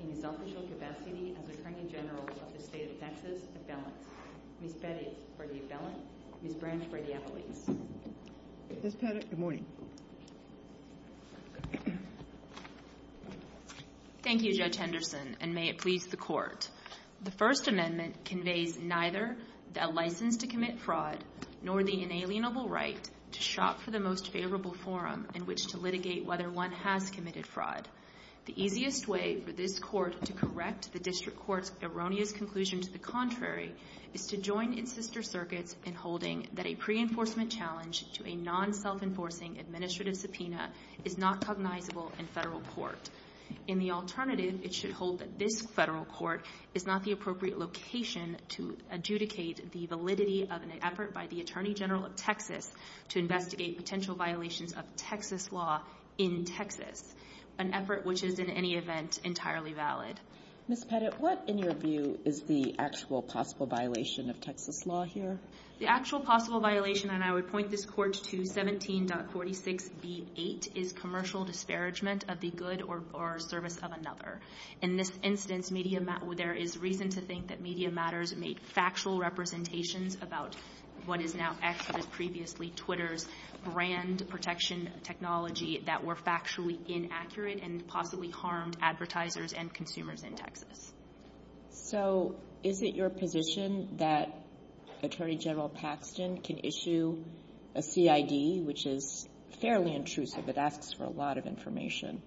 in his official capacity as Attorney General of the State of Texas, Appellant, Ms. Pettit for the Appellant, Ms. Branch for the Appellant. Ms. Pettit, good morning. Thank you, Judge Henderson, and may it please the Court, the First Amendment conveys neither a license to commit fraud nor the inalienable right to shop for the most favorable forum in which to litigate whether one has committed fraud. The easiest way for this Court to correct the District Court's erroneous conclusion to the contrary is to join in sister circuits in holding that a pre-enforcement challenge to a non-self-enforcing administrative subpoena is not cognizable in federal court. In the alternative, it should hold that this federal court is not the appropriate location to adjudicate the validity of an effort by the Attorney General of Texas to investigate potential violations of Texas law in Texas, an effort which is in any event entirely valid. Ms. Pettit, what in your view is the actual possible violation of Texas law here? The actual possible violation, and I would point this Court to 17.46b8, is commercial disparagement of the good or service of another. In this instance, there is reason to think that Media Matters made factual representations about what is now actually previously Twitter's brand protection technology that were factually inaccurate and possibly harmed advertisers and consumers in Texas. So is it your position that Attorney General Paxton can issue a CID, which is fairly intrusive, it asks for a lot of information,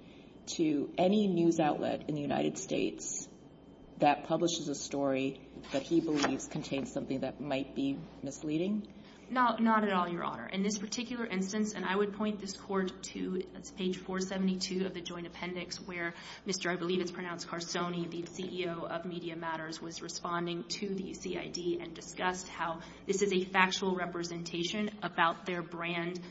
to any news outlet in the United States that publishes a story that he believes contains something that might be misleading? Not at all, Your Honor. In this particular instance, and I would point this Court to page 472 of the Joint Appendix, where Mr. I believe it's pronounced Carsoni, the CEO of Media Matters, was responding to the CID and discussed how this is a factual representation about their brand,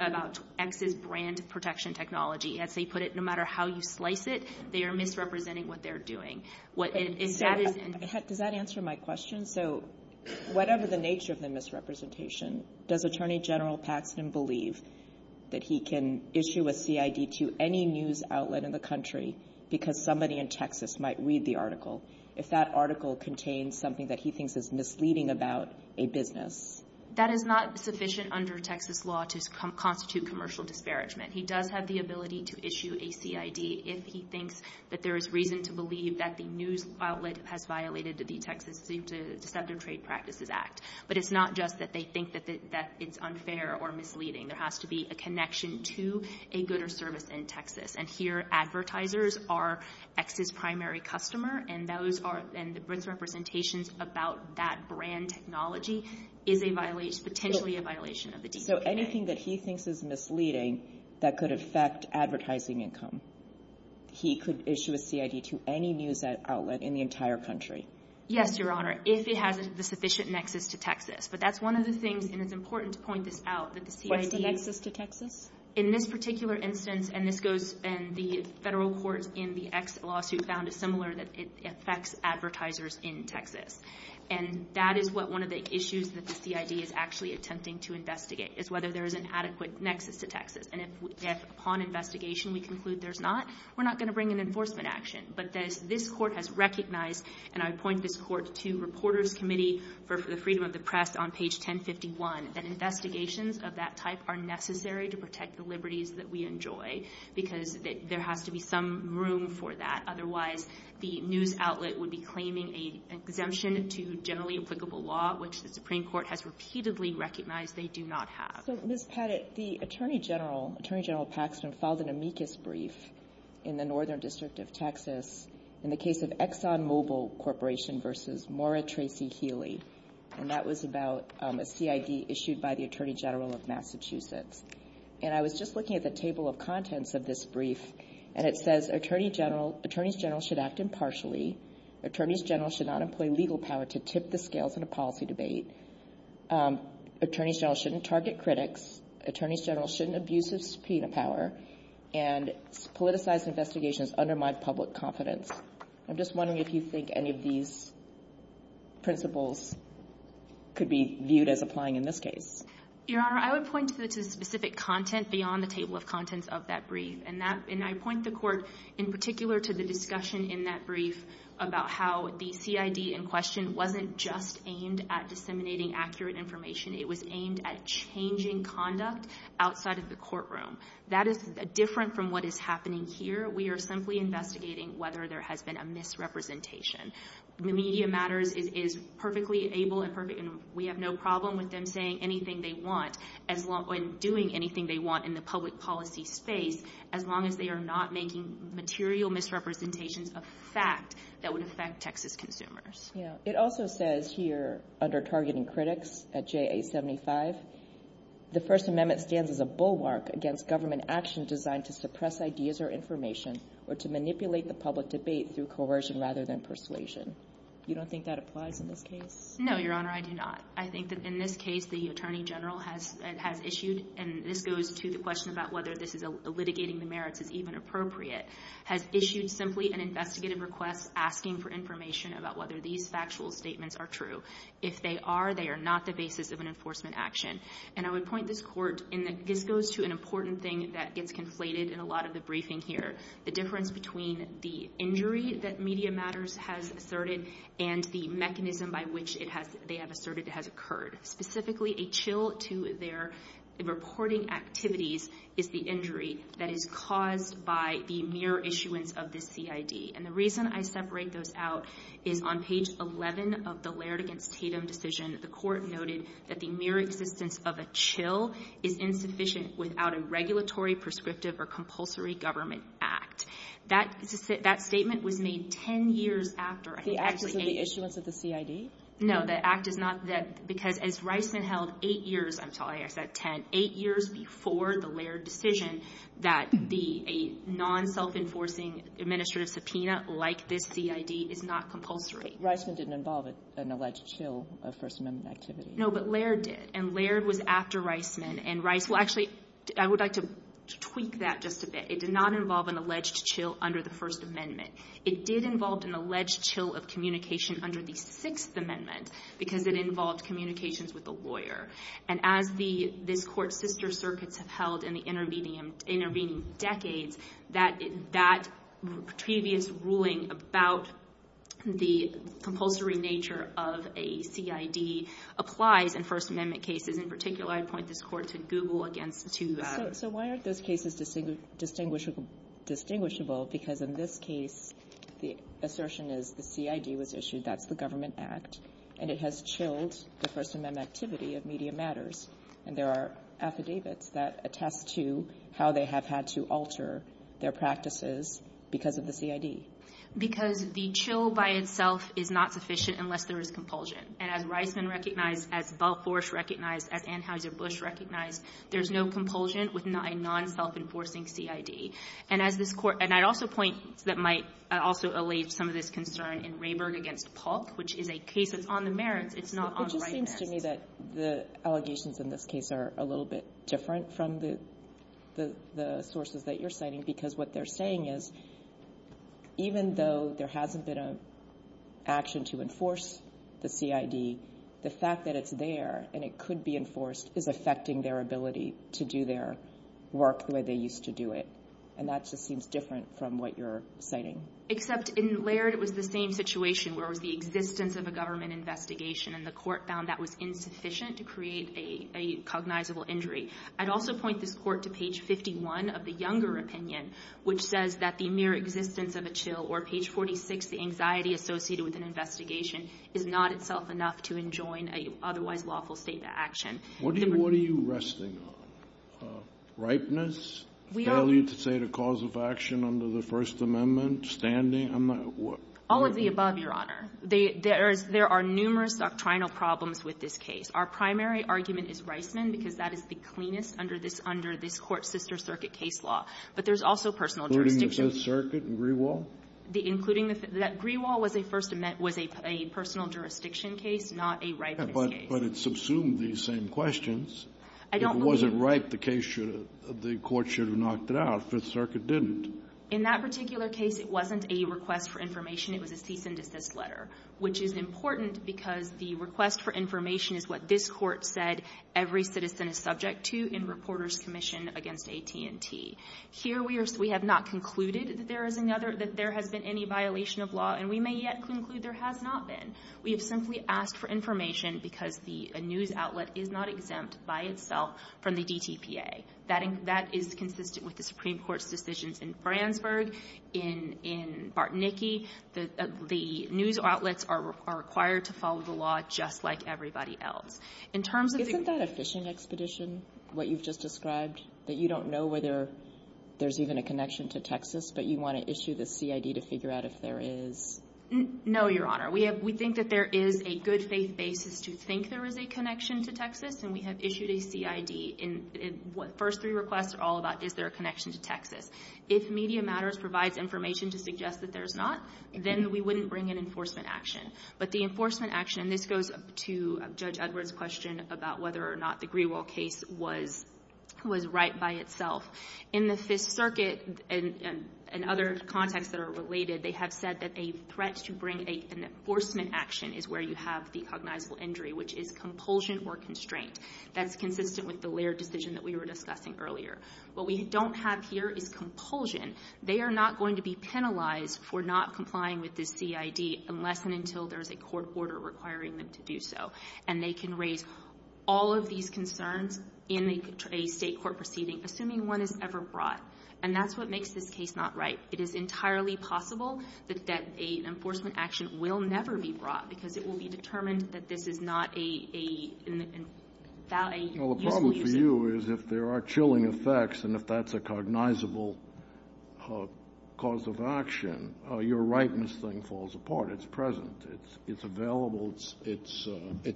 about X's brand protection technology. As they put it, no matter how you slice it, they are misrepresenting what they're doing. Does that answer my question? So whatever the nature of the misrepresentation, does Attorney General Paxton believe that he can issue a CID to any news outlet in the country because somebody in Texas might read the article if that article contains something that he thinks is misleading about a business? That is not sufficient under Texas law to constitute commercial disparagement. He does have the ability to issue a CID if he thinks that there is reason to believe that the news outlet has violated the Texas Deceptive Trade Practices Act. But it's not just that they think that it's unfair or misleading. There has to be a connection to a good or service in Texas. And here, advertisers are X's primary customer, and those are, and the misrepresentations about that brand technology is a violation, potentially a violation of the DCPA. So anything that he thinks is misleading that could affect advertising income, he could issue a CID to any news outlet in the entire country? Yes, Your Honor, if it has the sufficient nexus to Texas. But that's one of the things, and it's important to point this out, that the CID... What's the nexus to Texas? In this particular instance, and this goes, and the federal court in the X lawsuit found a similar, that it affects advertisers in Texas. And that is what one of the issues that the CID is actually attempting to investigate, is whether there is an adequate nexus to Texas. And if upon investigation, we conclude there's not, we're not going to bring an enforcement action. But this court has recognized, and I point this court to Reporters Committee for the Freedom of the Press on page 1051, that investigations of that type are necessary to protect the liberties that we enjoy, because there has to be some room for that. Otherwise, the news outlet would be claiming an exemption to generally applicable law, which the Supreme Court has repeatedly recognized they do not have. So, Ms. Padgett, the Attorney General, Attorney General Paxman, filed an amicus brief in the Northern District of Texas in the case of ExxonMobil Corporation versus Maura Tracy Healy. And that was about a CID issued by the Attorney General of Massachusetts. And I was just looking at the table of contents of this brief, and it says, Attorneys General should act impartially. Attorneys General should not employ legal power to tip the scales in a policy debate. Attorneys General shouldn't target critics. Attorneys General shouldn't abuse of subpoena power. And politicized investigations undermine public confidence. I'm just wondering if you think any of these principles could be viewed as applying in this case. Your Honor, I would point to the specific content beyond the table of contents of that brief. And I point the Court in particular to the discussion in that brief about how the CID in question wasn't just aimed at disseminating accurate information. It was aimed at changing conduct outside of the courtroom. That is different from what is happening here. We are simply investigating whether there has been a misrepresentation. Media Matters is perfectly able and we have no problem with them saying anything they want and doing anything they want in the public policy space as long as they are not making material misrepresentations of fact that would affect Texas consumers. Yeah. It also says here under targeting critics at JA 75, the First Amendment stands as a bulwark against government action designed to suppress ideas or information or to manipulate the public debate through coercion rather than persuasion. You don't think that applies in this case? No, Your Honor, I do not. I think that in this case, the Attorney General has issued, and this goes to the question about whether this is litigating the merits is even appropriate, has issued simply an investigative request asking for information about whether these factual statements are true. If they are, they are not the basis of an enforcement action. And I would point this Court in that this goes to an important thing that gets conflated in a lot of the briefing here. The difference between the injury that Media Matters has asserted and the mechanism by which they have asserted it has occurred. Specifically, a chill to their reporting activities is the injury that is caused by the mere issuance of the CID. And the reason I separate those out is on page 11 of the Laird v. Tatum decision, the Court noted that the mere existence of a chill is insufficient without a regulatory, prescriptive, or compulsory government act. That statement was made 10 years after. The act is in the issuance of the CID? No. The act is not. Because as Reisman held eight years, I'm sorry, I said 10, eight years before the Laird decision, that a non-self-enforcing administrative subpoena like this CID is not compulsory. Reisman didn't involve an alleged chill of First Amendment activity. No, but Laird did. And Laird was after Reisman. And Reisman actually, I would like to tweak that just a bit. It did not involve an alleged chill under the First Amendment. It did involve an alleged chill of communication under the Sixth Amendment because it involved communications with a lawyer. And as this Court's sister circuits have held in the intervening decades, that previous ruling about the compulsory nature of a CID applies in First Amendment cases. In particular, I'd point this Court to Google against two others. So why aren't those cases distinguishable? Because in this case, the assertion is the CID was issued. That's the government act. And it has chilled the First Amendment activity of media matters. And there are affidavits that attest to how they have had to alter their practices because of the CID. Because the chill by itself is not sufficient unless there is compulsion. And as Reisman recognized, as Balfoursh recognized, as Anheuser-Busch recognized, there's no compulsion with a non-self-enforcing CID. And as this Court – and I'd also point – that might also allay some of this concern in Rayburg v. Polk, which is a case that's on the merits. It's not on the right hand. It just seems to me that the allegations in this case are a little bit different from the sources that you're citing because what they're saying is, even though there hasn't been an action to enforce the CID, the fact that it's there and it could be enforced is affecting their ability to do their work the way they used to do it. And that just seems different from what you're citing. Except in Laird, it was the same situation where it was the existence of a government investigation and the Court found that was insufficient to create a cognizable injury. I'd also point this Court to page 51 of the Younger opinion, which says that the mere existence of a chill, or page 46, the anxiety associated with an investigation, is not itself enough to enjoin an otherwise lawful state of action. What do you – what are you resting on? Ripeness, failure to say the cause of action under the First Amendment, standing? I'm not – what? All of the above, Your Honor. There are numerous doctrinal problems with this case. Our primary argument is Reisman because that is the cleanest under this – under this Court's sister circuit case law. But there's also personal jurisdiction. Including the Fifth Circuit and Greenwald? Including the – that Greenwald was a First Amendment – was a personal jurisdiction case, not a Ripeness case. But it subsumed these same questions. I don't believe – If it wasn't Ripeness, the case should have – the Court should have knocked it out. Fifth Circuit didn't. In that particular case, it wasn't a request for information. It was a cease-and-desist letter, which is important because the request for information is what this Court said every citizen is subject to in Reporters Commission against AT&T. Here, we have not concluded that there is another – that there has been any violation of law, and we may yet conclude there has not been. We have simply asked for information because the news outlet is not exempt by itself from the DTPA. That is consistent with the Supreme Court's decisions in Fransburg, in Bartnicki. The news outlets are required to follow the law just like everybody else. In terms of the – Isn't that a fishing expedition, what you've just described? That you don't know whether there's even a connection to Texas, but you want to issue the CID to figure out if there is? No, Your Honor. We have – we think that there is a good faith basis to think there is a connection to Texas, and we have issued a CID. And the first three requests are all about is there a connection to Texas. If Media Matters provides information to suggest that there's not, then we wouldn't bring an enforcement action. But the enforcement action – and this goes to Judge Edwards' question about whether or not the Greenwald case was right by itself. In the Fifth Circuit and other contexts that are related, they have said that a threat to bring an enforcement action is where you have the cognizable injury, which is compulsion or constraint. That's consistent with the Laird decision that we were discussing earlier. What we don't have here is compulsion. They are not going to be penalized for not complying with the CID unless and until there's a court order requiring them to do so. And they can raise all of these concerns in a State court proceeding, assuming one is ever brought. And that's what makes this case not right. It is entirely possible that an enforcement action will never be brought, because it will be determined that this is not a useful use of it. Well, the problem for you is if there are chilling effects and if that's a cognizable cause of action, your rightness thing falls apart. It's present. It's available. It's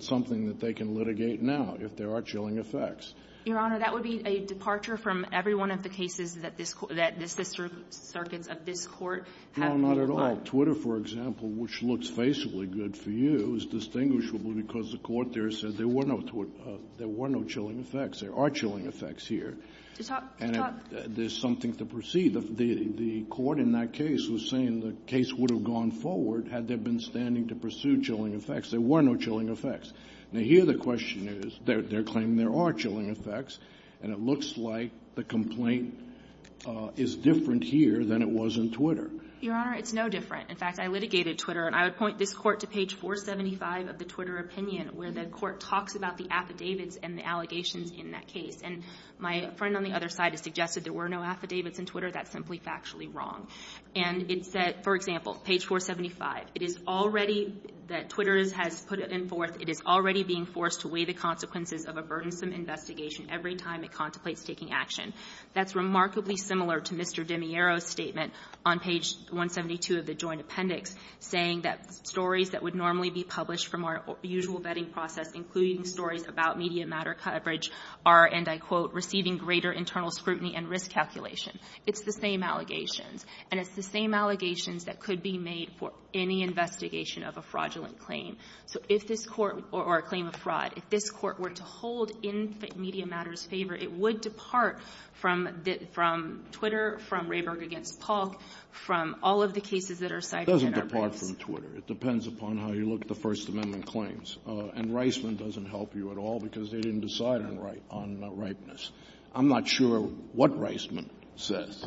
something that they can litigate now if there are chilling effects. Your Honor, that would be a departure from every one of the cases that this Court that the Sixth Circuit of this Court have brought. No, not at all. Twitter, for example, which looks faceably good for you, is distinguishable because the Court there said there were no chilling effects. There are chilling effects here. To talk to talk. There's something to proceed. The Court in that case was saying the case would have gone forward had there been standing to pursue chilling effects. There were no chilling effects. Now, here the question is, they're claiming there are chilling effects, and it looks like the complaint is different here than it was in Twitter. Your Honor, it's no different. In fact, I litigated Twitter. And I would point this Court to page 475 of the Twitter opinion where the Court talks about the affidavits and the allegations in that case. And my friend on the other side has suggested there were no affidavits in Twitter. That's simply factually wrong. And it said, for example, page 475, it is already that Twitter has put it in fourth. It is already being forced to weigh the consequences of a burdensome investigation every time it contemplates taking action. That's remarkably similar to Mr. DeMiero's statement on page 172 of the Joint Appendix saying that stories that would normally be published from our usual vetting process, including stories about media matter coverage, are, and I quote, receiving greater internal scrutiny and risk calculation. It's the same allegations. And it's the same allegations that could be made for any investigation of a fraudulent claim. So if this Court, or a claim of fraud, if this Court were to hold in media matters favor, it would depart from Twitter, from Rayburg v. Polk, from all of the cases that are cited in our case. It doesn't depart from Twitter. It depends upon how you look at the First Amendment claims. And Reisman doesn't help you at all because they didn't decide on rightness. I'm not sure what Reisman says.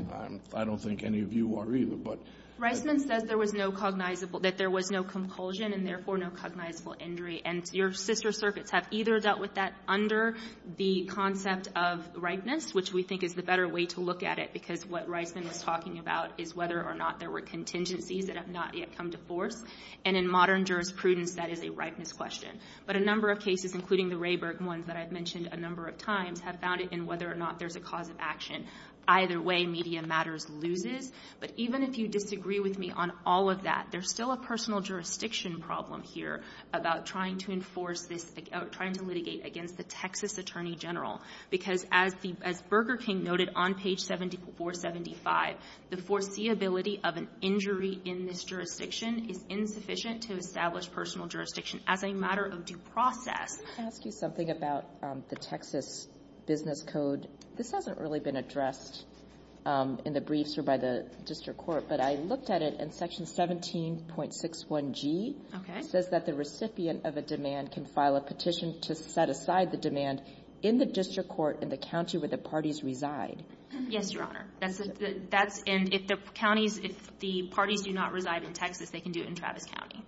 I don't think any of you are either. But Reisman says there was no cognizable, that there was no compulsion and therefore no cognizable injury. And your sister circuits have either dealt with that under the concept of rightness, which we think is the better way to look at it because what Reisman is talking about is whether or not there were contingencies that have not yet come to force. And in modern jurisprudence, that is a rightness question. But a number of cases, including the Rayburg ones that I've mentioned a number of times, have found it in whether or not there's a cause of action. Either way, media matters loses. But even if you disagree with me on all of that, there's still a personal jurisdiction problem here about trying to enforce this, trying to litigate against the Texas Attorney General. Because as Burger King noted on page 7475, the foreseeability of an injury in this jurisdiction is insufficient to establish personal jurisdiction as a matter of due process. Can I ask you something about the Texas business code? This hasn't really been addressed in the briefs or by the district court. But I looked at it, and section 17.61G says that the recipient of a demand can file a petition to set aside the demand in the district court in the county where the parties reside. Yes, Your Honor. And if the parties do not reside in Texas, they can do it in Travis County.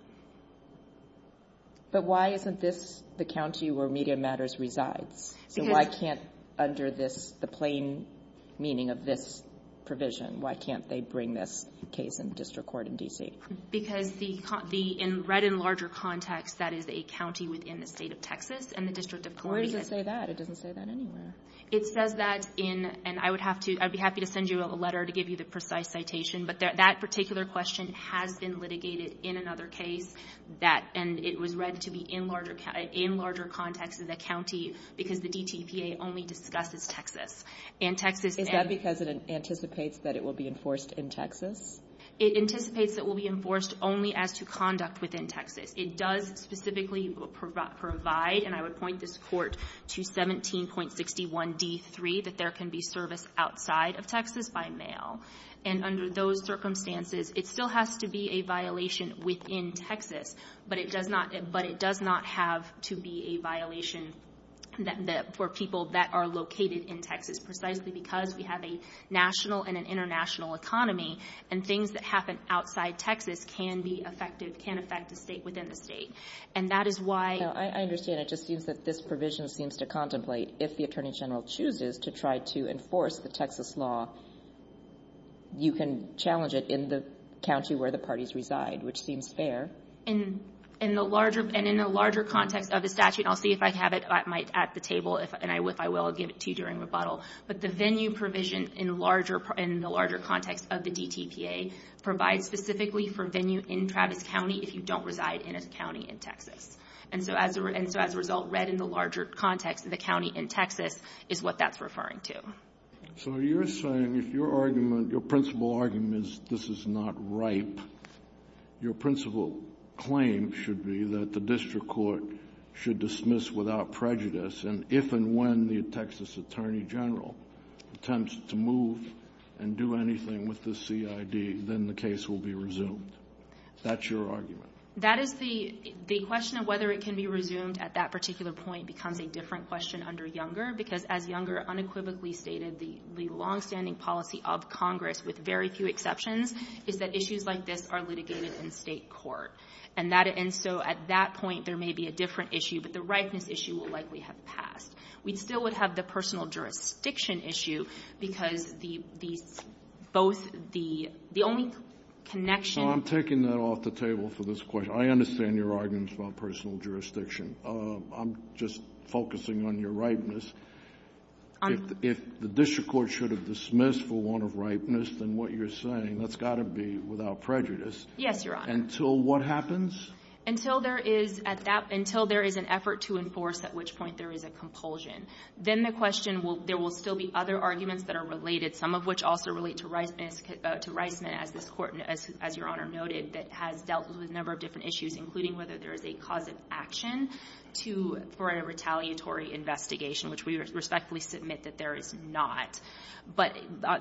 But why isn't this the county where media matters resides? So why can't, under this, the plain meaning of this provision, why can't they bring this case in district court in D.C.? Because the, in read in larger context, that is a county within the state of Texas and the district of Columbia. Where does it say that? It doesn't say that anywhere. It says that in, and I would have to, I'd be happy to send you a letter to give you a precise citation, but that particular question has been litigated in another case that, and it was read to be in larger, in larger context of the county because the DTPA only discusses Texas. And Texas. Is that because it anticipates that it will be enforced in Texas? It anticipates that it will be enforced only as to conduct within Texas. It does specifically provide, and I would point this court to 17.61D3, that there can be service outside of Texas by mail. And under those circumstances, it still has to be a violation within Texas, but it does not, but it does not have to be a violation that, that for people that are located in Texas, precisely because we have a national and an international economy and things that happen outside Texas can be effective, can affect the state within the state. And that is why. Now, I understand. It just seems that this provision seems to contemplate if the attorney general chooses to try to enforce the Texas law, you can challenge it in the county where the parties reside, which seems fair. In, in the larger, and in the larger context of the statute, and I'll see if I have it at the table, and if I will, I'll give it to you during rebuttal. But the venue provision in larger, in the larger context of the DTPA provides specifically for venue in Travis County if you don't reside in a county in Texas. And so as a, and so as a result, read in the larger context of the county in Texas is what that's referring to. So you're saying if your argument, your principal argument is this is not ripe, your principal claim should be that the district court should dismiss without prejudice, and if and when the Texas attorney general attempts to move and do anything with the CID, then the case will be resumed. That's your argument? That is the, the question of whether it can be resumed at that particular point becomes a different question under Younger, because as Younger unequivocally stated, the, the longstanding policy of Congress, with very few exceptions, is that issues like this are litigated in state court. And that, and so at that point, there may be a different issue, but the ripeness issue will likely have passed. We'd still would have the personal jurisdiction issue, because the, the, both the, the only connection. So I'm taking that off the table for this question. I understand your arguments about personal jurisdiction. I'm just focusing on your ripeness. If the district court should have dismissed for want of ripeness, then what you're saying, that's got to be without prejudice. Yes, Your Honor. Until what happens? Until there is, at that, until there is an effort to enforce, at which point there is a compulsion. Then the question will, there will still be other arguments that are related, some of which also relate to Reisman, as this Court, as Your Honor noted, that has dealt with a number of different issues, including whether there is a cause of action to, for a retaliatory investigation, which we respectfully submit that there is not. But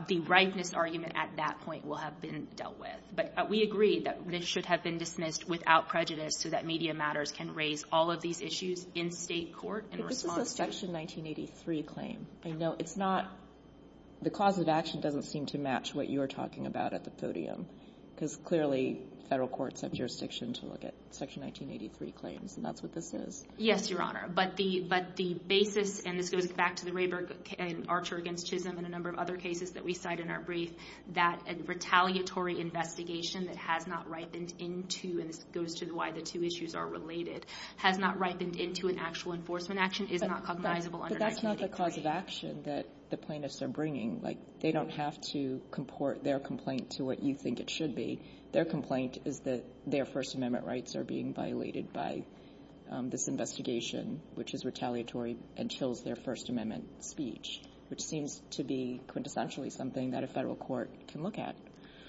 the ripeness argument at that point will have been dealt with. But we agree that this should have been dismissed without prejudice, so that media matters can raise all of these issues in state court in response to. But this is a Section 1983 claim. I know it's not, the cause of action doesn't seem to match what you're talking about at the podium, because clearly Federal courts have jurisdiction to look at Section 1983 claims, and that's what this is. Yes, Your Honor. But the basis, and this goes back to the Rayburg and Archer against Chisholm and a number of other cases that we cite in our brief, that a retaliatory investigation that has not ripened into, and this goes to why the two issues are related, has not ripened into an actual enforcement action is not cognizable under 1983. But that's not the cause of action that the plaintiffs are bringing. They don't have to comport their complaint to what you think it should be. Their complaint is that their First Amendment rights are being violated by this investigation, which is retaliatory and chills their First Amendment speech, which seems to be quintessentially something that a Federal court can look at.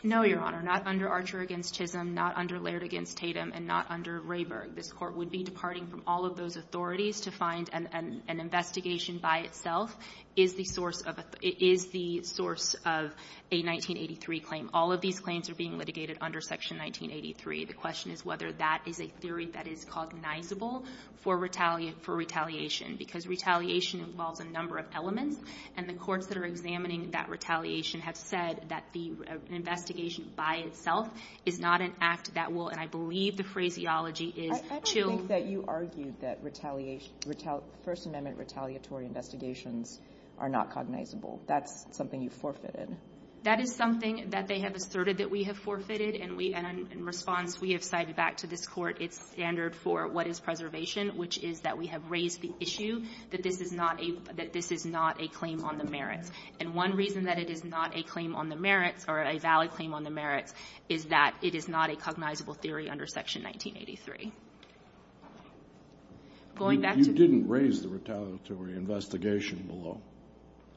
No, Your Honor. Not under Archer against Chisholm, not under Laird against Tatum, and not under Rayburg. This Court would be departing from all of those authorities to find an investigation by itself is the source of a 1983 claim. All of these claims are being litigated under Section 1983. The question is whether that is a theory that is cognizable for retaliation. Because retaliation involves a number of elements, and the courts that are examining that retaliation have said that the investigation by itself is not an act that will and I believe the phraseology is chill. I think that you argued that retaliation, First Amendment retaliatory investigations are not cognizable. That's something you forfeited. That is something that they have asserted that we have forfeited, and we, in response, we have cited back to this Court its standard for what is preservation, which is that we have raised the issue that this is not a claim on the merits. And one reason that it is not a claim on the merits or a valid claim on the merits is that it is not a cognizable theory under Section 1983. Going back to the ---- Kennedy, you didn't raise the retaliatory investigation below.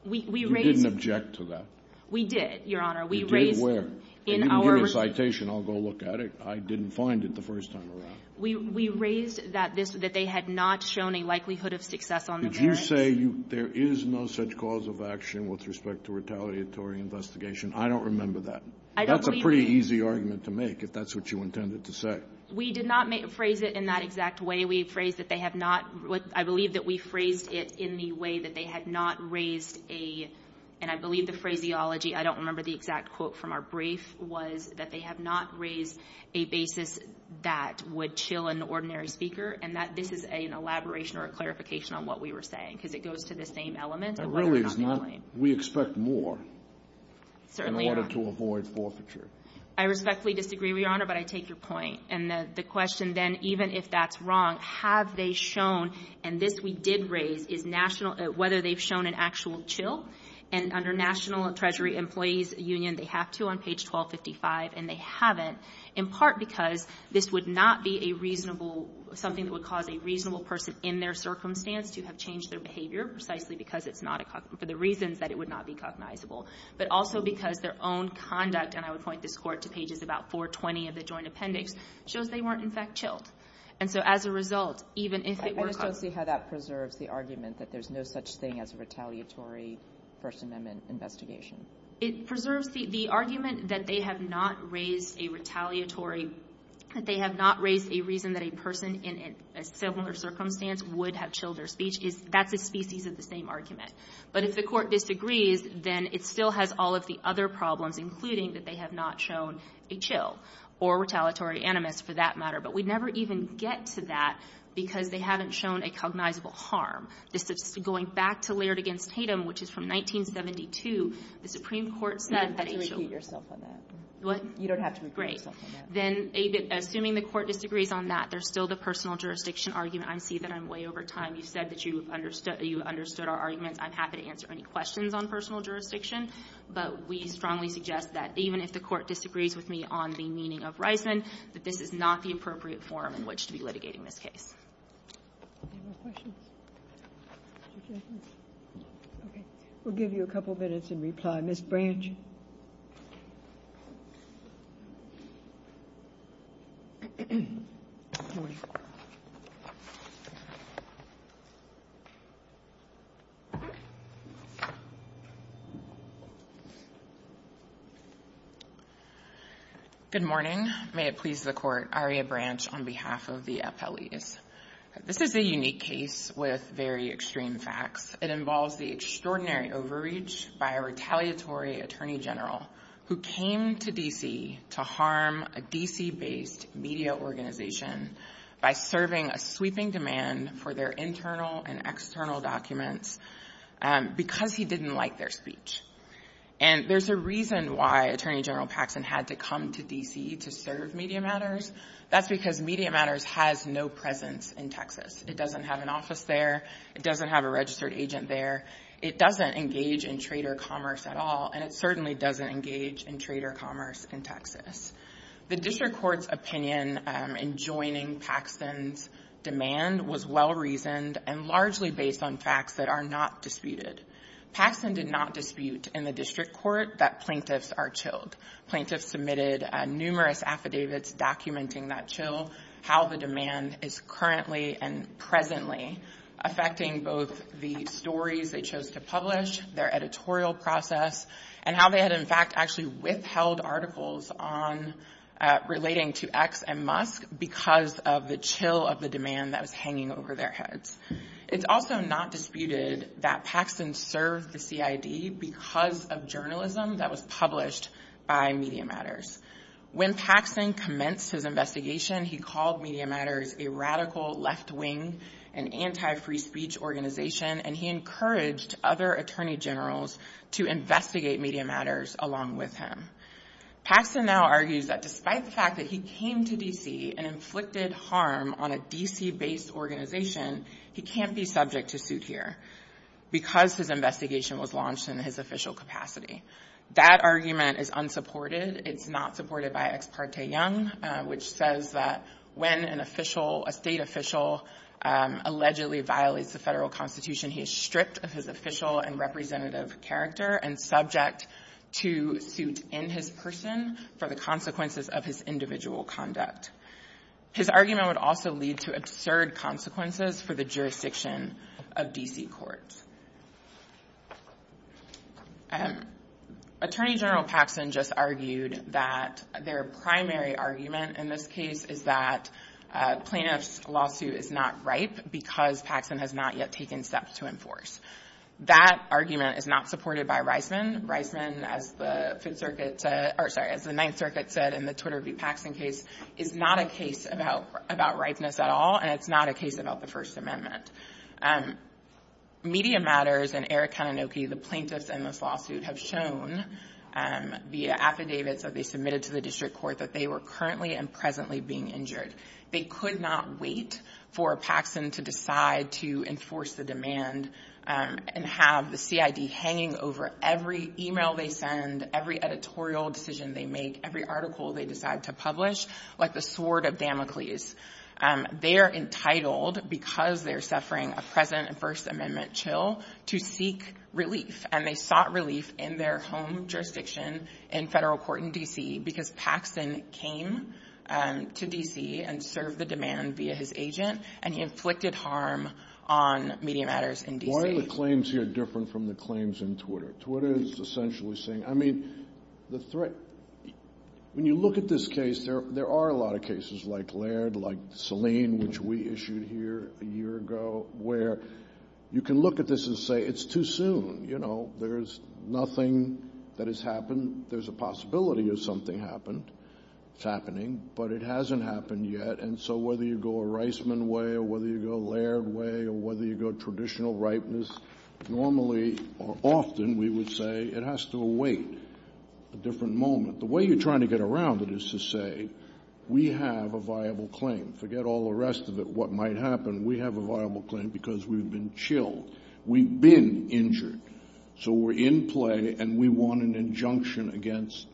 You didn't object to that. We did, Your Honor. We raised in our ---- You did where? They didn't give a citation. I'll go look at it. I didn't find it the first time around. We raised that this was that they had not shown a likelihood of success on the merits. Did you say there is no such cause of action with respect to retaliatory investigation? I don't remember that. I don't believe that. That's a pretty easy argument to make, if that's what you intended to say. We did not phrase it in that exact way. We phrased that they have not ---- I believe that we phrased it in the way that they had not raised a ---- and I believe the phraseology, I don't remember the exact quote from our brief, was that they have not raised a basis that would chill an ordinary speaker, and that this is an elaboration or a clarification on what we were saying, because it goes to the same element of whether or not the claim ---- That really is not ---- we expect more in order to avoid forfeiture. I respectfully disagree, Your Honor, but I take your point. And the question then, even if that's wrong, have they shown, and this we did raise, is national ---- whether they've shown an actual chill. And under National Treasury Employees Union, they have to on page 1255, and they haven't, in part because this would not be a reasonable ---- something that would cause a reasonable person in their circumstance to have changed their behavior precisely because it's not a ---- for the reasons that it would not be cognizable, but also because their own conduct, and I would point this Court to pages about 420 of the Joint Appendix, shows they weren't, in fact, chilled. And so as a result, even if it were ---- I just don't see how that preserves the argument that there's no such thing as a retaliatory First Amendment investigation. It preserves the argument that they have not raised a retaliatory ---- they have not raised a reason that a person in a similar circumstance would have chilled their speech. That's a species of the same argument. But if the Court disagrees, then it still has all of the other problems, including that they have not shown a chill or retaliatory animus, for that matter. But we'd never even get to that because they haven't shown a cognizable harm. This is going back to Laird v. Tatum, which is from 1972. The Supreme Court said that a chill ---- Kagan, you don't have to repeat yourself on that. What? You don't have to repeat yourself on that. Then, assuming the Court disagrees on that, there's still the personal jurisdiction argument. I see that I'm way over time. You said that you understood ---- you understood our arguments. I'm happy to answer any questions on personal jurisdiction, but we strongly suggest that even if the Court disagrees with me on the meaning of Reisman, that this is not the appropriate forum in which to be litigating this case. Any more questions? Okay. We'll give you a couple minutes in reply. Ms. Branch. Good morning. May it please the Court, Aria Branch, on behalf of the appellees. This is a unique case with very extreme facts. It involves the extraordinary overreach by a retaliatory attorney general who came to D.C. to harm a D.C.-based media organization by serving a sweeping demand for their internal and external documents because he didn't like their speech. And there's a reason why Attorney General Paxson had to come to D.C. to serve Media Matters. That's because Media Matters has no presence in Texas. It doesn't have an office there. It doesn't have a registered agent there. It doesn't engage in trader commerce at all, and it certainly doesn't engage in trader commerce in Texas. The district court's opinion in joining Paxson's demand was well-reasoned and largely based on facts that are not disputed. Paxson did not dispute in the district court that plaintiffs are chilled. Plaintiffs submitted numerous affidavits documenting that chill, how the demand is currently and presently affecting both the stories they chose to publish, their editorial process, and how they had, in fact, actually withheld articles relating to X and Musk because of the chill of the demand that was hanging over their heads. It's also not disputed that Paxson served the CID because of journalism that was published by Media Matters. When Paxson commenced his investigation, he called Media Matters a radical left-wing and anti-free speech organization, and he encouraged other attorney generals to investigate Media Matters along with him. Paxson now argues that despite the fact that he came to D.C. and inflicted harm on a D.C.-based organization, he can't be subject to suit here because his investigation was launched in his official capacity. That argument is unsupported. It's not supported by Ex Parte Young, which says that when an official, a state official, allegedly violates the federal constitution, he is stripped of his official and representative character and subject to suit in his person for the consequences of his individual conduct. His argument would also lead to absurd consequences for the jurisdiction of D.C. courts. Attorney General Paxson just argued that their primary argument in this case is that a plaintiff's lawsuit is not ripe because Paxson has not yet taken steps to enforce. That argument is not supported by Reisman. Reisman, as the Ninth Circuit said in the Twitter v. Paxson case, is not a case about ripeness at all, and it's not a case about the First Amendment. Media Matters and Eric Kanunoki, the plaintiffs in this lawsuit, have shown via affidavits that they submitted to the district court that they were currently and presently being injured. They could not wait for Paxson to decide to enforce the demand and have the CID hanging over every email they send, every editorial decision they make, every article they decide to publish, like the sword of Damocles. They are entitled, because they're suffering a present First Amendment chill, to seek relief, and they sought relief in their home jurisdiction in federal court in D.C. because Paxson came to D.C. and served the demand via his agent, and he inflicted harm on Media Matters in D.C. Why are the claims here different from the claims in Twitter? Twitter is essentially saying, I mean, when you look at this case, there are a lot of layers, like Selene, which we issued here a year ago, where you can look at this and say it's too soon, you know, there's nothing that has happened, there's a possibility of something happened, it's happening, but it hasn't happened yet, and so whether you go a Reisman way or whether you go a Laird way or whether you go a traditional rightness, normally, or often, we would say it has to await a different moment. The way you're trying to get around it is to say, we have a viable claim. Forget all the rest of it, what might happen. We have a viable claim because we've been chilled. We've been injured. So we're in play, and we want an injunction against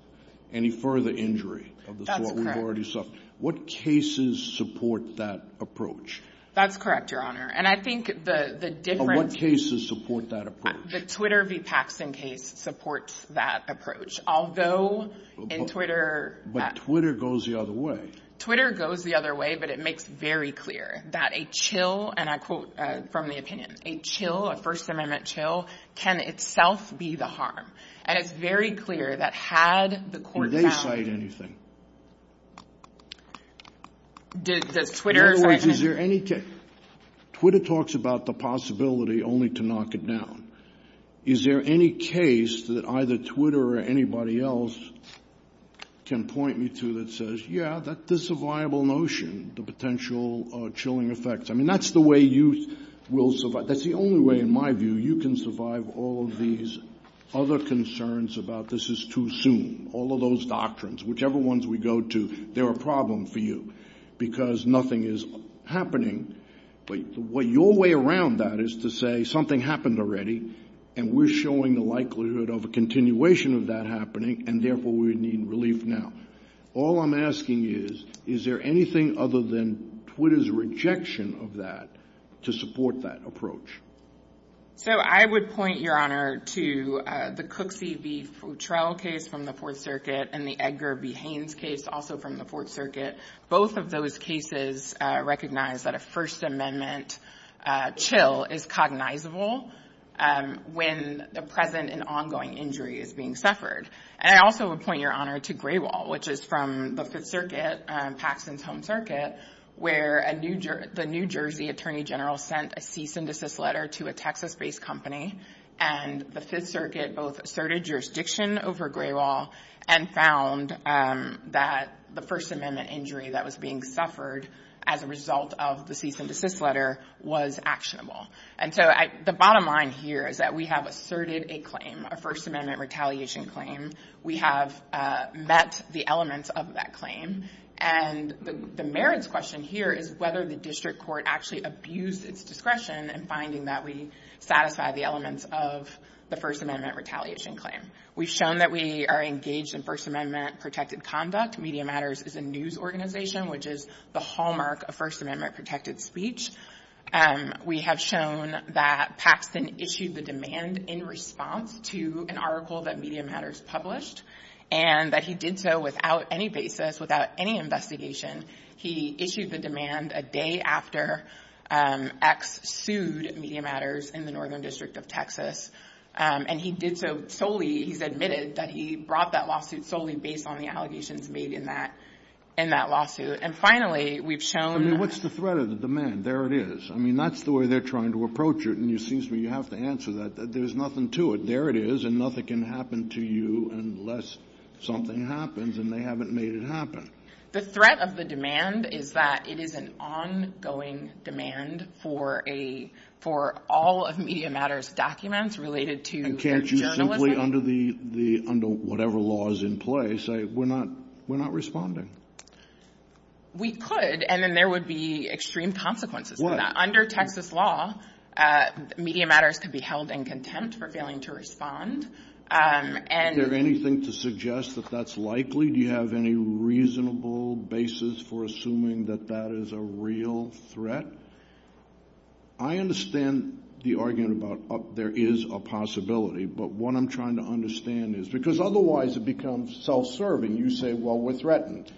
any further injury of the sort we've already suffered. What cases support that approach? That's correct, Your Honor. And I think the difference of what cases support that approach? The Twitter v. Paxson case supports that approach. Although in Twitter... But Twitter goes the other way. Twitter goes the other way, but it makes very clear that a chill, and I quote from the opinion, a chill, a First Amendment chill, can itself be the harm. And it's very clear that had the court found... Would they cite anything? Does Twitter cite anything? In other words, is there any case... Twitter talks about the possibility only to knock it down. Is there any case that either Twitter or anybody else can point me to that says, yeah, this is a viable notion, the potential chilling effects. I mean, that's the way you will survive. That's the only way, in my view, you can survive all of these other concerns about this is too soon, all of those doctrines. Whichever ones we go to, they're a problem for you because nothing is happening. But your way around that is to say something happened already, and we're showing the likelihood of a continuation of that happening, and therefore, we need relief now. All I'm asking is, is there anything other than Twitter's rejection of that to support that approach? So I would point, Your Honor, to the Cook v. Futrell case from the Fourth Circuit and the Edgar v. Haynes case, also from the Fourth Circuit. Both of those cases recognize that a First Amendment chill is cognizable when the present and ongoing injury is being suffered. And I also would point, Your Honor, to Gray Wall, which is from the Fifth Circuit, Paxson's home circuit, where the New Jersey Attorney General sent a cease and desist letter to a Texas-based company. And the Fifth Circuit both asserted jurisdiction over Gray Wall and found that the First Amendment injury that was being suffered as a result of the cease and desist letter was actionable. And so the bottom line here is that we have asserted a claim, a First Amendment retaliation claim. We have met the elements of that claim. And the merits question here is whether the district court actually abused its discretion in finding that we satisfied the elements of the First Amendment retaliation claim. We've shown that we are engaged in First Amendment-protected conduct. Media Matters is a news organization, which is the hallmark of First Amendment protected speech. We have shown that Paxson issued the demand in response to an article that Media Matters published and that he did so without any basis, without any investigation. He issued the demand a day after X sued Media Matters in the northern district of Texas. And he did so solely, he's admitted that he brought that lawsuit solely based on the allegations made in that lawsuit. And finally, we've shown- I mean, what's the threat of the demand? There it is. I mean, that's the way they're trying to approach it. And it seems to me you have to answer that. There's nothing to it. There it is. And nothing can happen to you unless something happens. And they haven't made it happen. The threat of the demand is that it is an ongoing demand for all of Media Matters documents related to their journalism. And can't you simply, under whatever law is in place, say, we're not responding? We could, and then there would be extreme consequences for that. Under Texas law, Media Matters could be held in contempt for failing to respond. Is there anything to suggest that that's likely? Do you have any reasonable basis for assuming that that is a real threat? I understand the argument about there is a possibility. But what I'm trying to understand is, because otherwise it becomes self-serving. You say, well, we're threatened.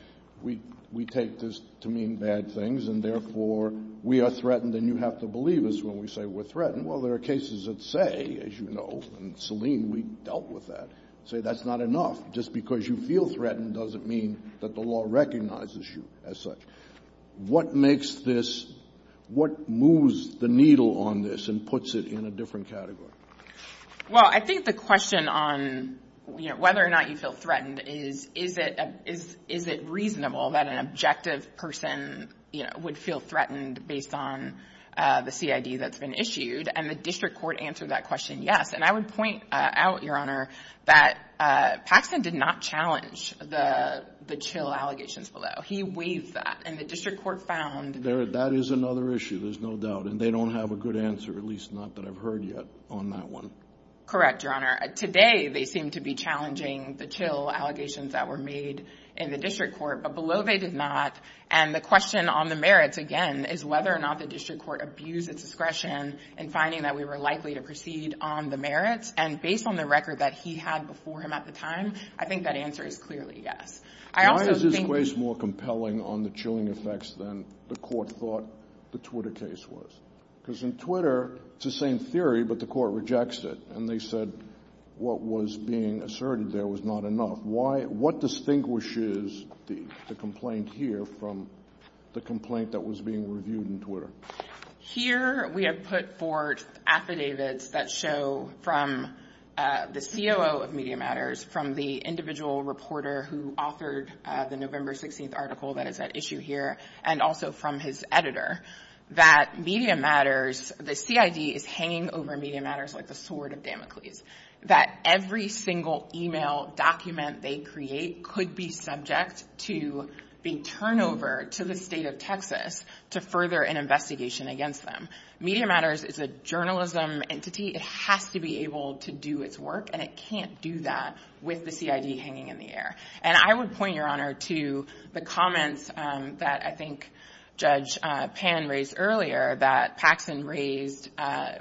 We take this to mean bad things, and therefore we are threatened and you have to believe us when we say we're threatened. Well, there are cases that say, as you know, and Selene, we dealt with that, say that's not enough. Just because you feel threatened doesn't mean that the law recognizes you as such. What makes this, what moves the needle on this and puts it in a different category? Well, I think the question on whether or not you feel threatened is, is it reasonable that an objective person would feel threatened based on the CID that's been issued? And the district court answered that question, yes. And I would point out, Your Honor, that Paxson did not challenge the chill allegations below. He waived that, and the district court found- That is another issue, there's no doubt. And they don't have a good answer, at least not that I've heard yet, on that one. Correct, Your Honor. Today, they seem to be challenging the chill allegations that were made in the district court, but below they did not. And the question on the merits, again, is whether or not the district court abused its discretion in finding that we were likely to proceed on the merits. And based on the record that he had before him at the time, I think that answer is clearly yes. I also think- Why is this case more compelling on the chilling effects than the court thought the Twitter case was? Because in Twitter, it's the same theory, but the court rejects it. And they said what was being asserted there was not enough. Why, what distinguishes the complaint here from the complaint that was being reviewed in Twitter? Here, we have put forth affidavits that show from the COO of Media Matters, from the individual reporter who authored the November 16th article that is at issue here, and also from his editor, that Media Matters, the CID is hanging over Media Matters like the sword of Damocles. That every single email document they create could be subject to the turnover to the state of Texas to further an investigation against them. Media Matters is a journalism entity. It has to be able to do its work, and it can't do that with the CID hanging in the air. And I would point, Your Honor, to the comments that I think Judge Pan raised earlier, that Paxson raised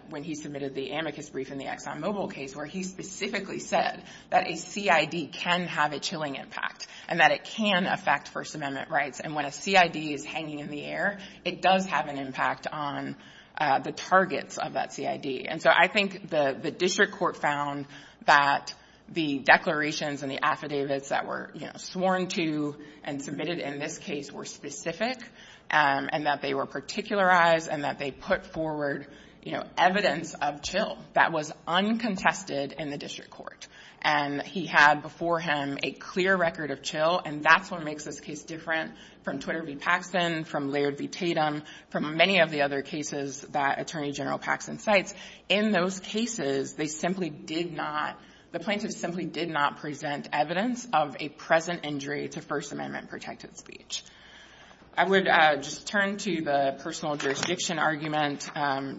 when he submitted the amicus brief in the ExxonMobil case, where he specifically said that a CID can have a chilling impact, and that it can affect First Amendment rights. And when a CID is hanging in the air, it does have an impact on the targets of that CID. And so I think the district court found that the declarations and the affidavits that were sworn to and submitted in this case were specific, and that they were particularized, and that they put forward, you know, evidence of chill that was uncontested in the district court. And he had before him a clear record of chill, and that's what makes this case different from Twitter v. Paxson, from Laird v. Tatum, from many of the other cases that Attorney General Paxson cites. In those cases, they simply did not, the plaintiffs simply did not present evidence of a present injury to First Amendment protected speech. I would just turn to the personal jurisdiction argument,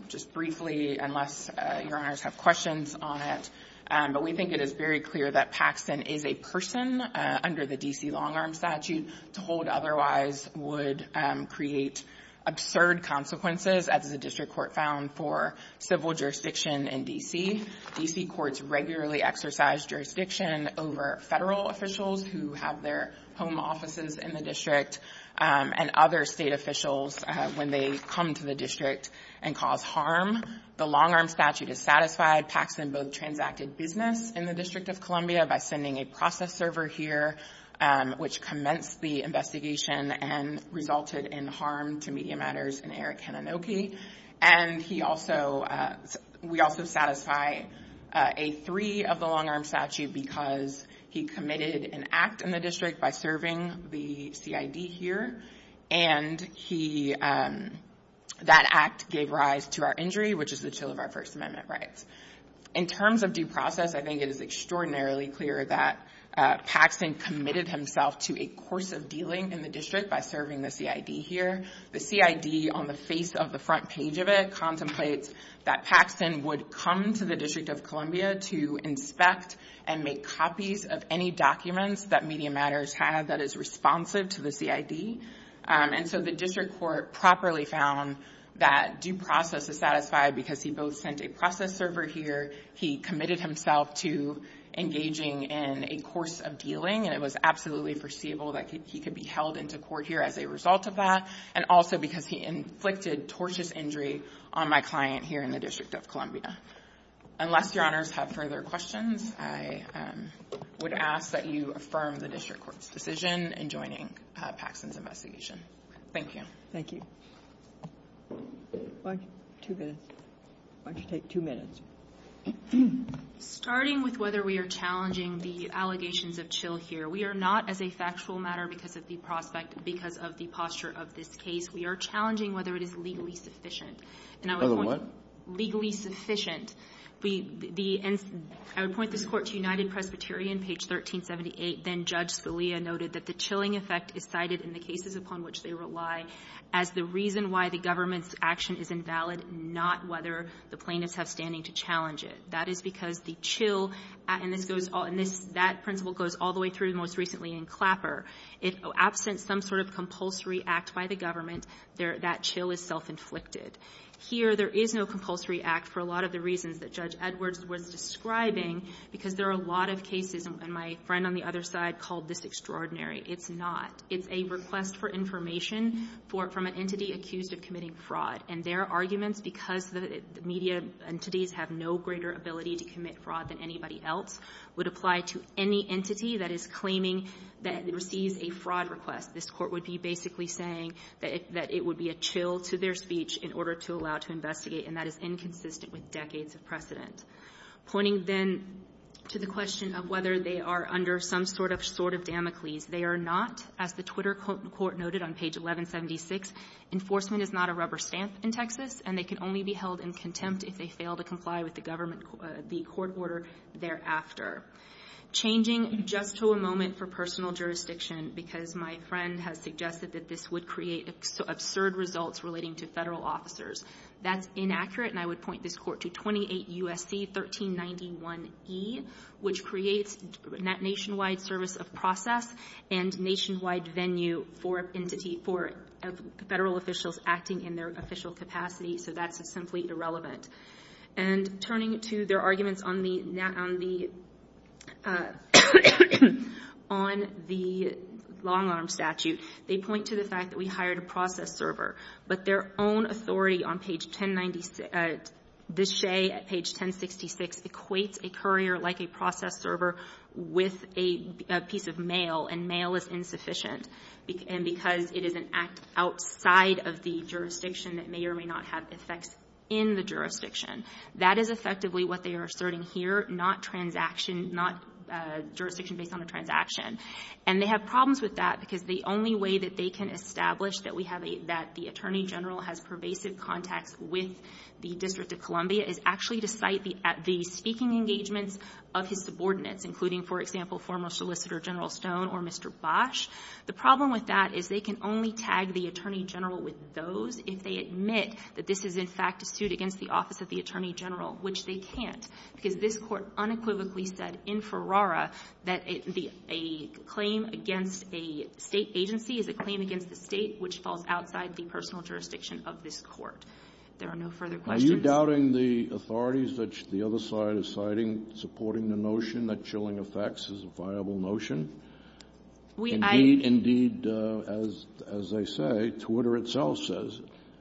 just briefly, unless your honors have questions on it. But we think it is very clear that Paxson is a person under the D.C. long-arm statute, to hold otherwise would create absurd consequences, as the district court found for civil jurisdiction in D.C. D.C. courts regularly exercise jurisdiction over federal officials who have their home offices in the district, and other state officials when they come to the district and cause harm. The long-arm statute is satisfied. Paxson both transacted business in the District of Columbia by sending a process server here, which commenced the investigation and resulted in harm to Media Matters and Eric Hanenoke. And he also, we also satisfy a three of the long-arm statute because he committed an act in the district by serving the CID here, and he, that act gave rise to our injury, which is the chill of our First Amendment rights. In terms of due process, I think it is extraordinarily clear that Paxson committed himself to a course of dealing in the district by serving the CID here. The CID, on the face of the front page of it, contemplates that Paxson would come to the District of Columbia to inspect and make copies of any documents that Media Matters had that is responsive to the CID. And so the district court properly found that due process is satisfied because he both sent a process server here, he committed himself to engaging in a course of dealing, and it was absolutely foreseeable that he could be held into court here as a result of that. And also because he inflicted tortious injury on my client here in the District of Columbia. Unless your honors have further questions, I would ask that you affirm the district court's decision in joining Paxson's investigation. Thank you. Thank you. Why don't you take two minutes? Starting with whether we are challenging the allegations of chill here, we are not, as a factual matter, because of the prospect, because of the posture of this case. We are challenging whether it is legally sufficient. And I would point to the what? Legally sufficient. I would point this Court to United Presbyterian, page 1378. Then Judge Salia noted that the chilling effect is cited in the cases upon which they rely as the reason why the government's action is invalid, not whether the plaintiffs have standing to challenge it. That is because the chill, and this goes all — and this — that is a clapper. If absent some sort of compulsory act by the government, that chill is self-inflicted. Here, there is no compulsory act for a lot of the reasons that Judge Edwards was describing, because there are a lot of cases, and my friend on the other side called this extraordinary. It's not. It's a request for information from an entity accused of committing fraud. And their arguments, because the media entities have no greater ability to commit fraud than anybody else, would apply to any entity that is claiming that it receives a fraud request. This Court would be basically saying that it would be a chill to their speech in order to allow to investigate, and that is inconsistent with decades of precedent. Pointing, then, to the question of whether they are under some sort of sort of Damocles, they are not. As the Twitter court noted on page 1176, enforcement is not a rubber stamp in Texas, and they can only be held in contempt if they fail to comply with the government — the court order thereafter. Changing just to a moment for personal jurisdiction, because my friend has suggested that this would create absurd results relating to Federal officers. That's inaccurate, and I would point this Court to 28 U.S.C. 1391e, which creates nationwide service of process and nationwide venue for entity — for Federal officials acting in their official capacity, so that's simply irrelevant. And turning to their arguments on the — on the — on the long-arm statute, they point to the fact that we hired a process server, but their own authority on page 1096 — the Shea at page 1066 equates a courier like a process server with a piece of mail, and mail is insufficient, and because it is an act outside of the jurisdiction that may or may not have effects in the jurisdiction. That is effectively what they are asserting here. Not transaction, not jurisdiction based on a transaction. And they have problems with that because the only way that they can establish that we have a — that the Attorney General has pervasive contacts with the District of Columbia is actually to cite the — the speaking engagements of his subordinates, including, for example, former Solicitor General Stone or Mr. Bosch. The problem with that is they can only tag the Attorney General with those if they admit that this is, in fact, a suit against the office of the Attorney General, which they can't, because this Court unequivocally said in Ferrara that a — a claim against a State agency is a claim against the State which falls outside the personal jurisdiction of this Court. There are no further questions. Kennedy. Are you doubting the authorities that the other side is citing, supporting the notion that chilling effects is a viable notion? Indeed, as they say, Twitter itself says,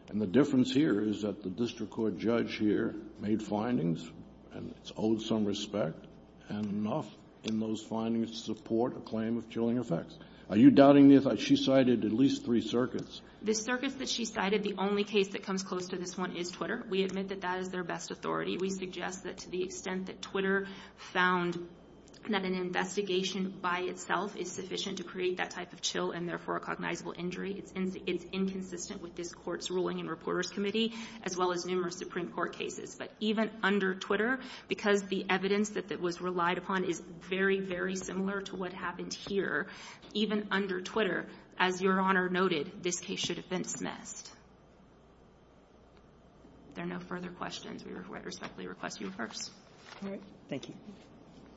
and the difference here is that the district court judge here made findings, and it's owed some respect, and enough in those findings to support a claim of chilling effects. Are you doubting the — she cited at least three circuits. The circuits that she cited, the only case that comes close to this one is Twitter. We admit that that is their best authority. We suggest that to the extent that Twitter found that an investigation by itself is sufficient to create that type of chill and, therefore, a cognizable injury, it's inconsistent with this Court's ruling in Reporters Committee as well as numerous Supreme Court cases. But even under Twitter, because the evidence that was relied upon is very, very similar to what happened here, even under Twitter, as Your Honor noted, this case should have been dismissed. There are no further questions. We respectfully request you reverse. All right. Thank you.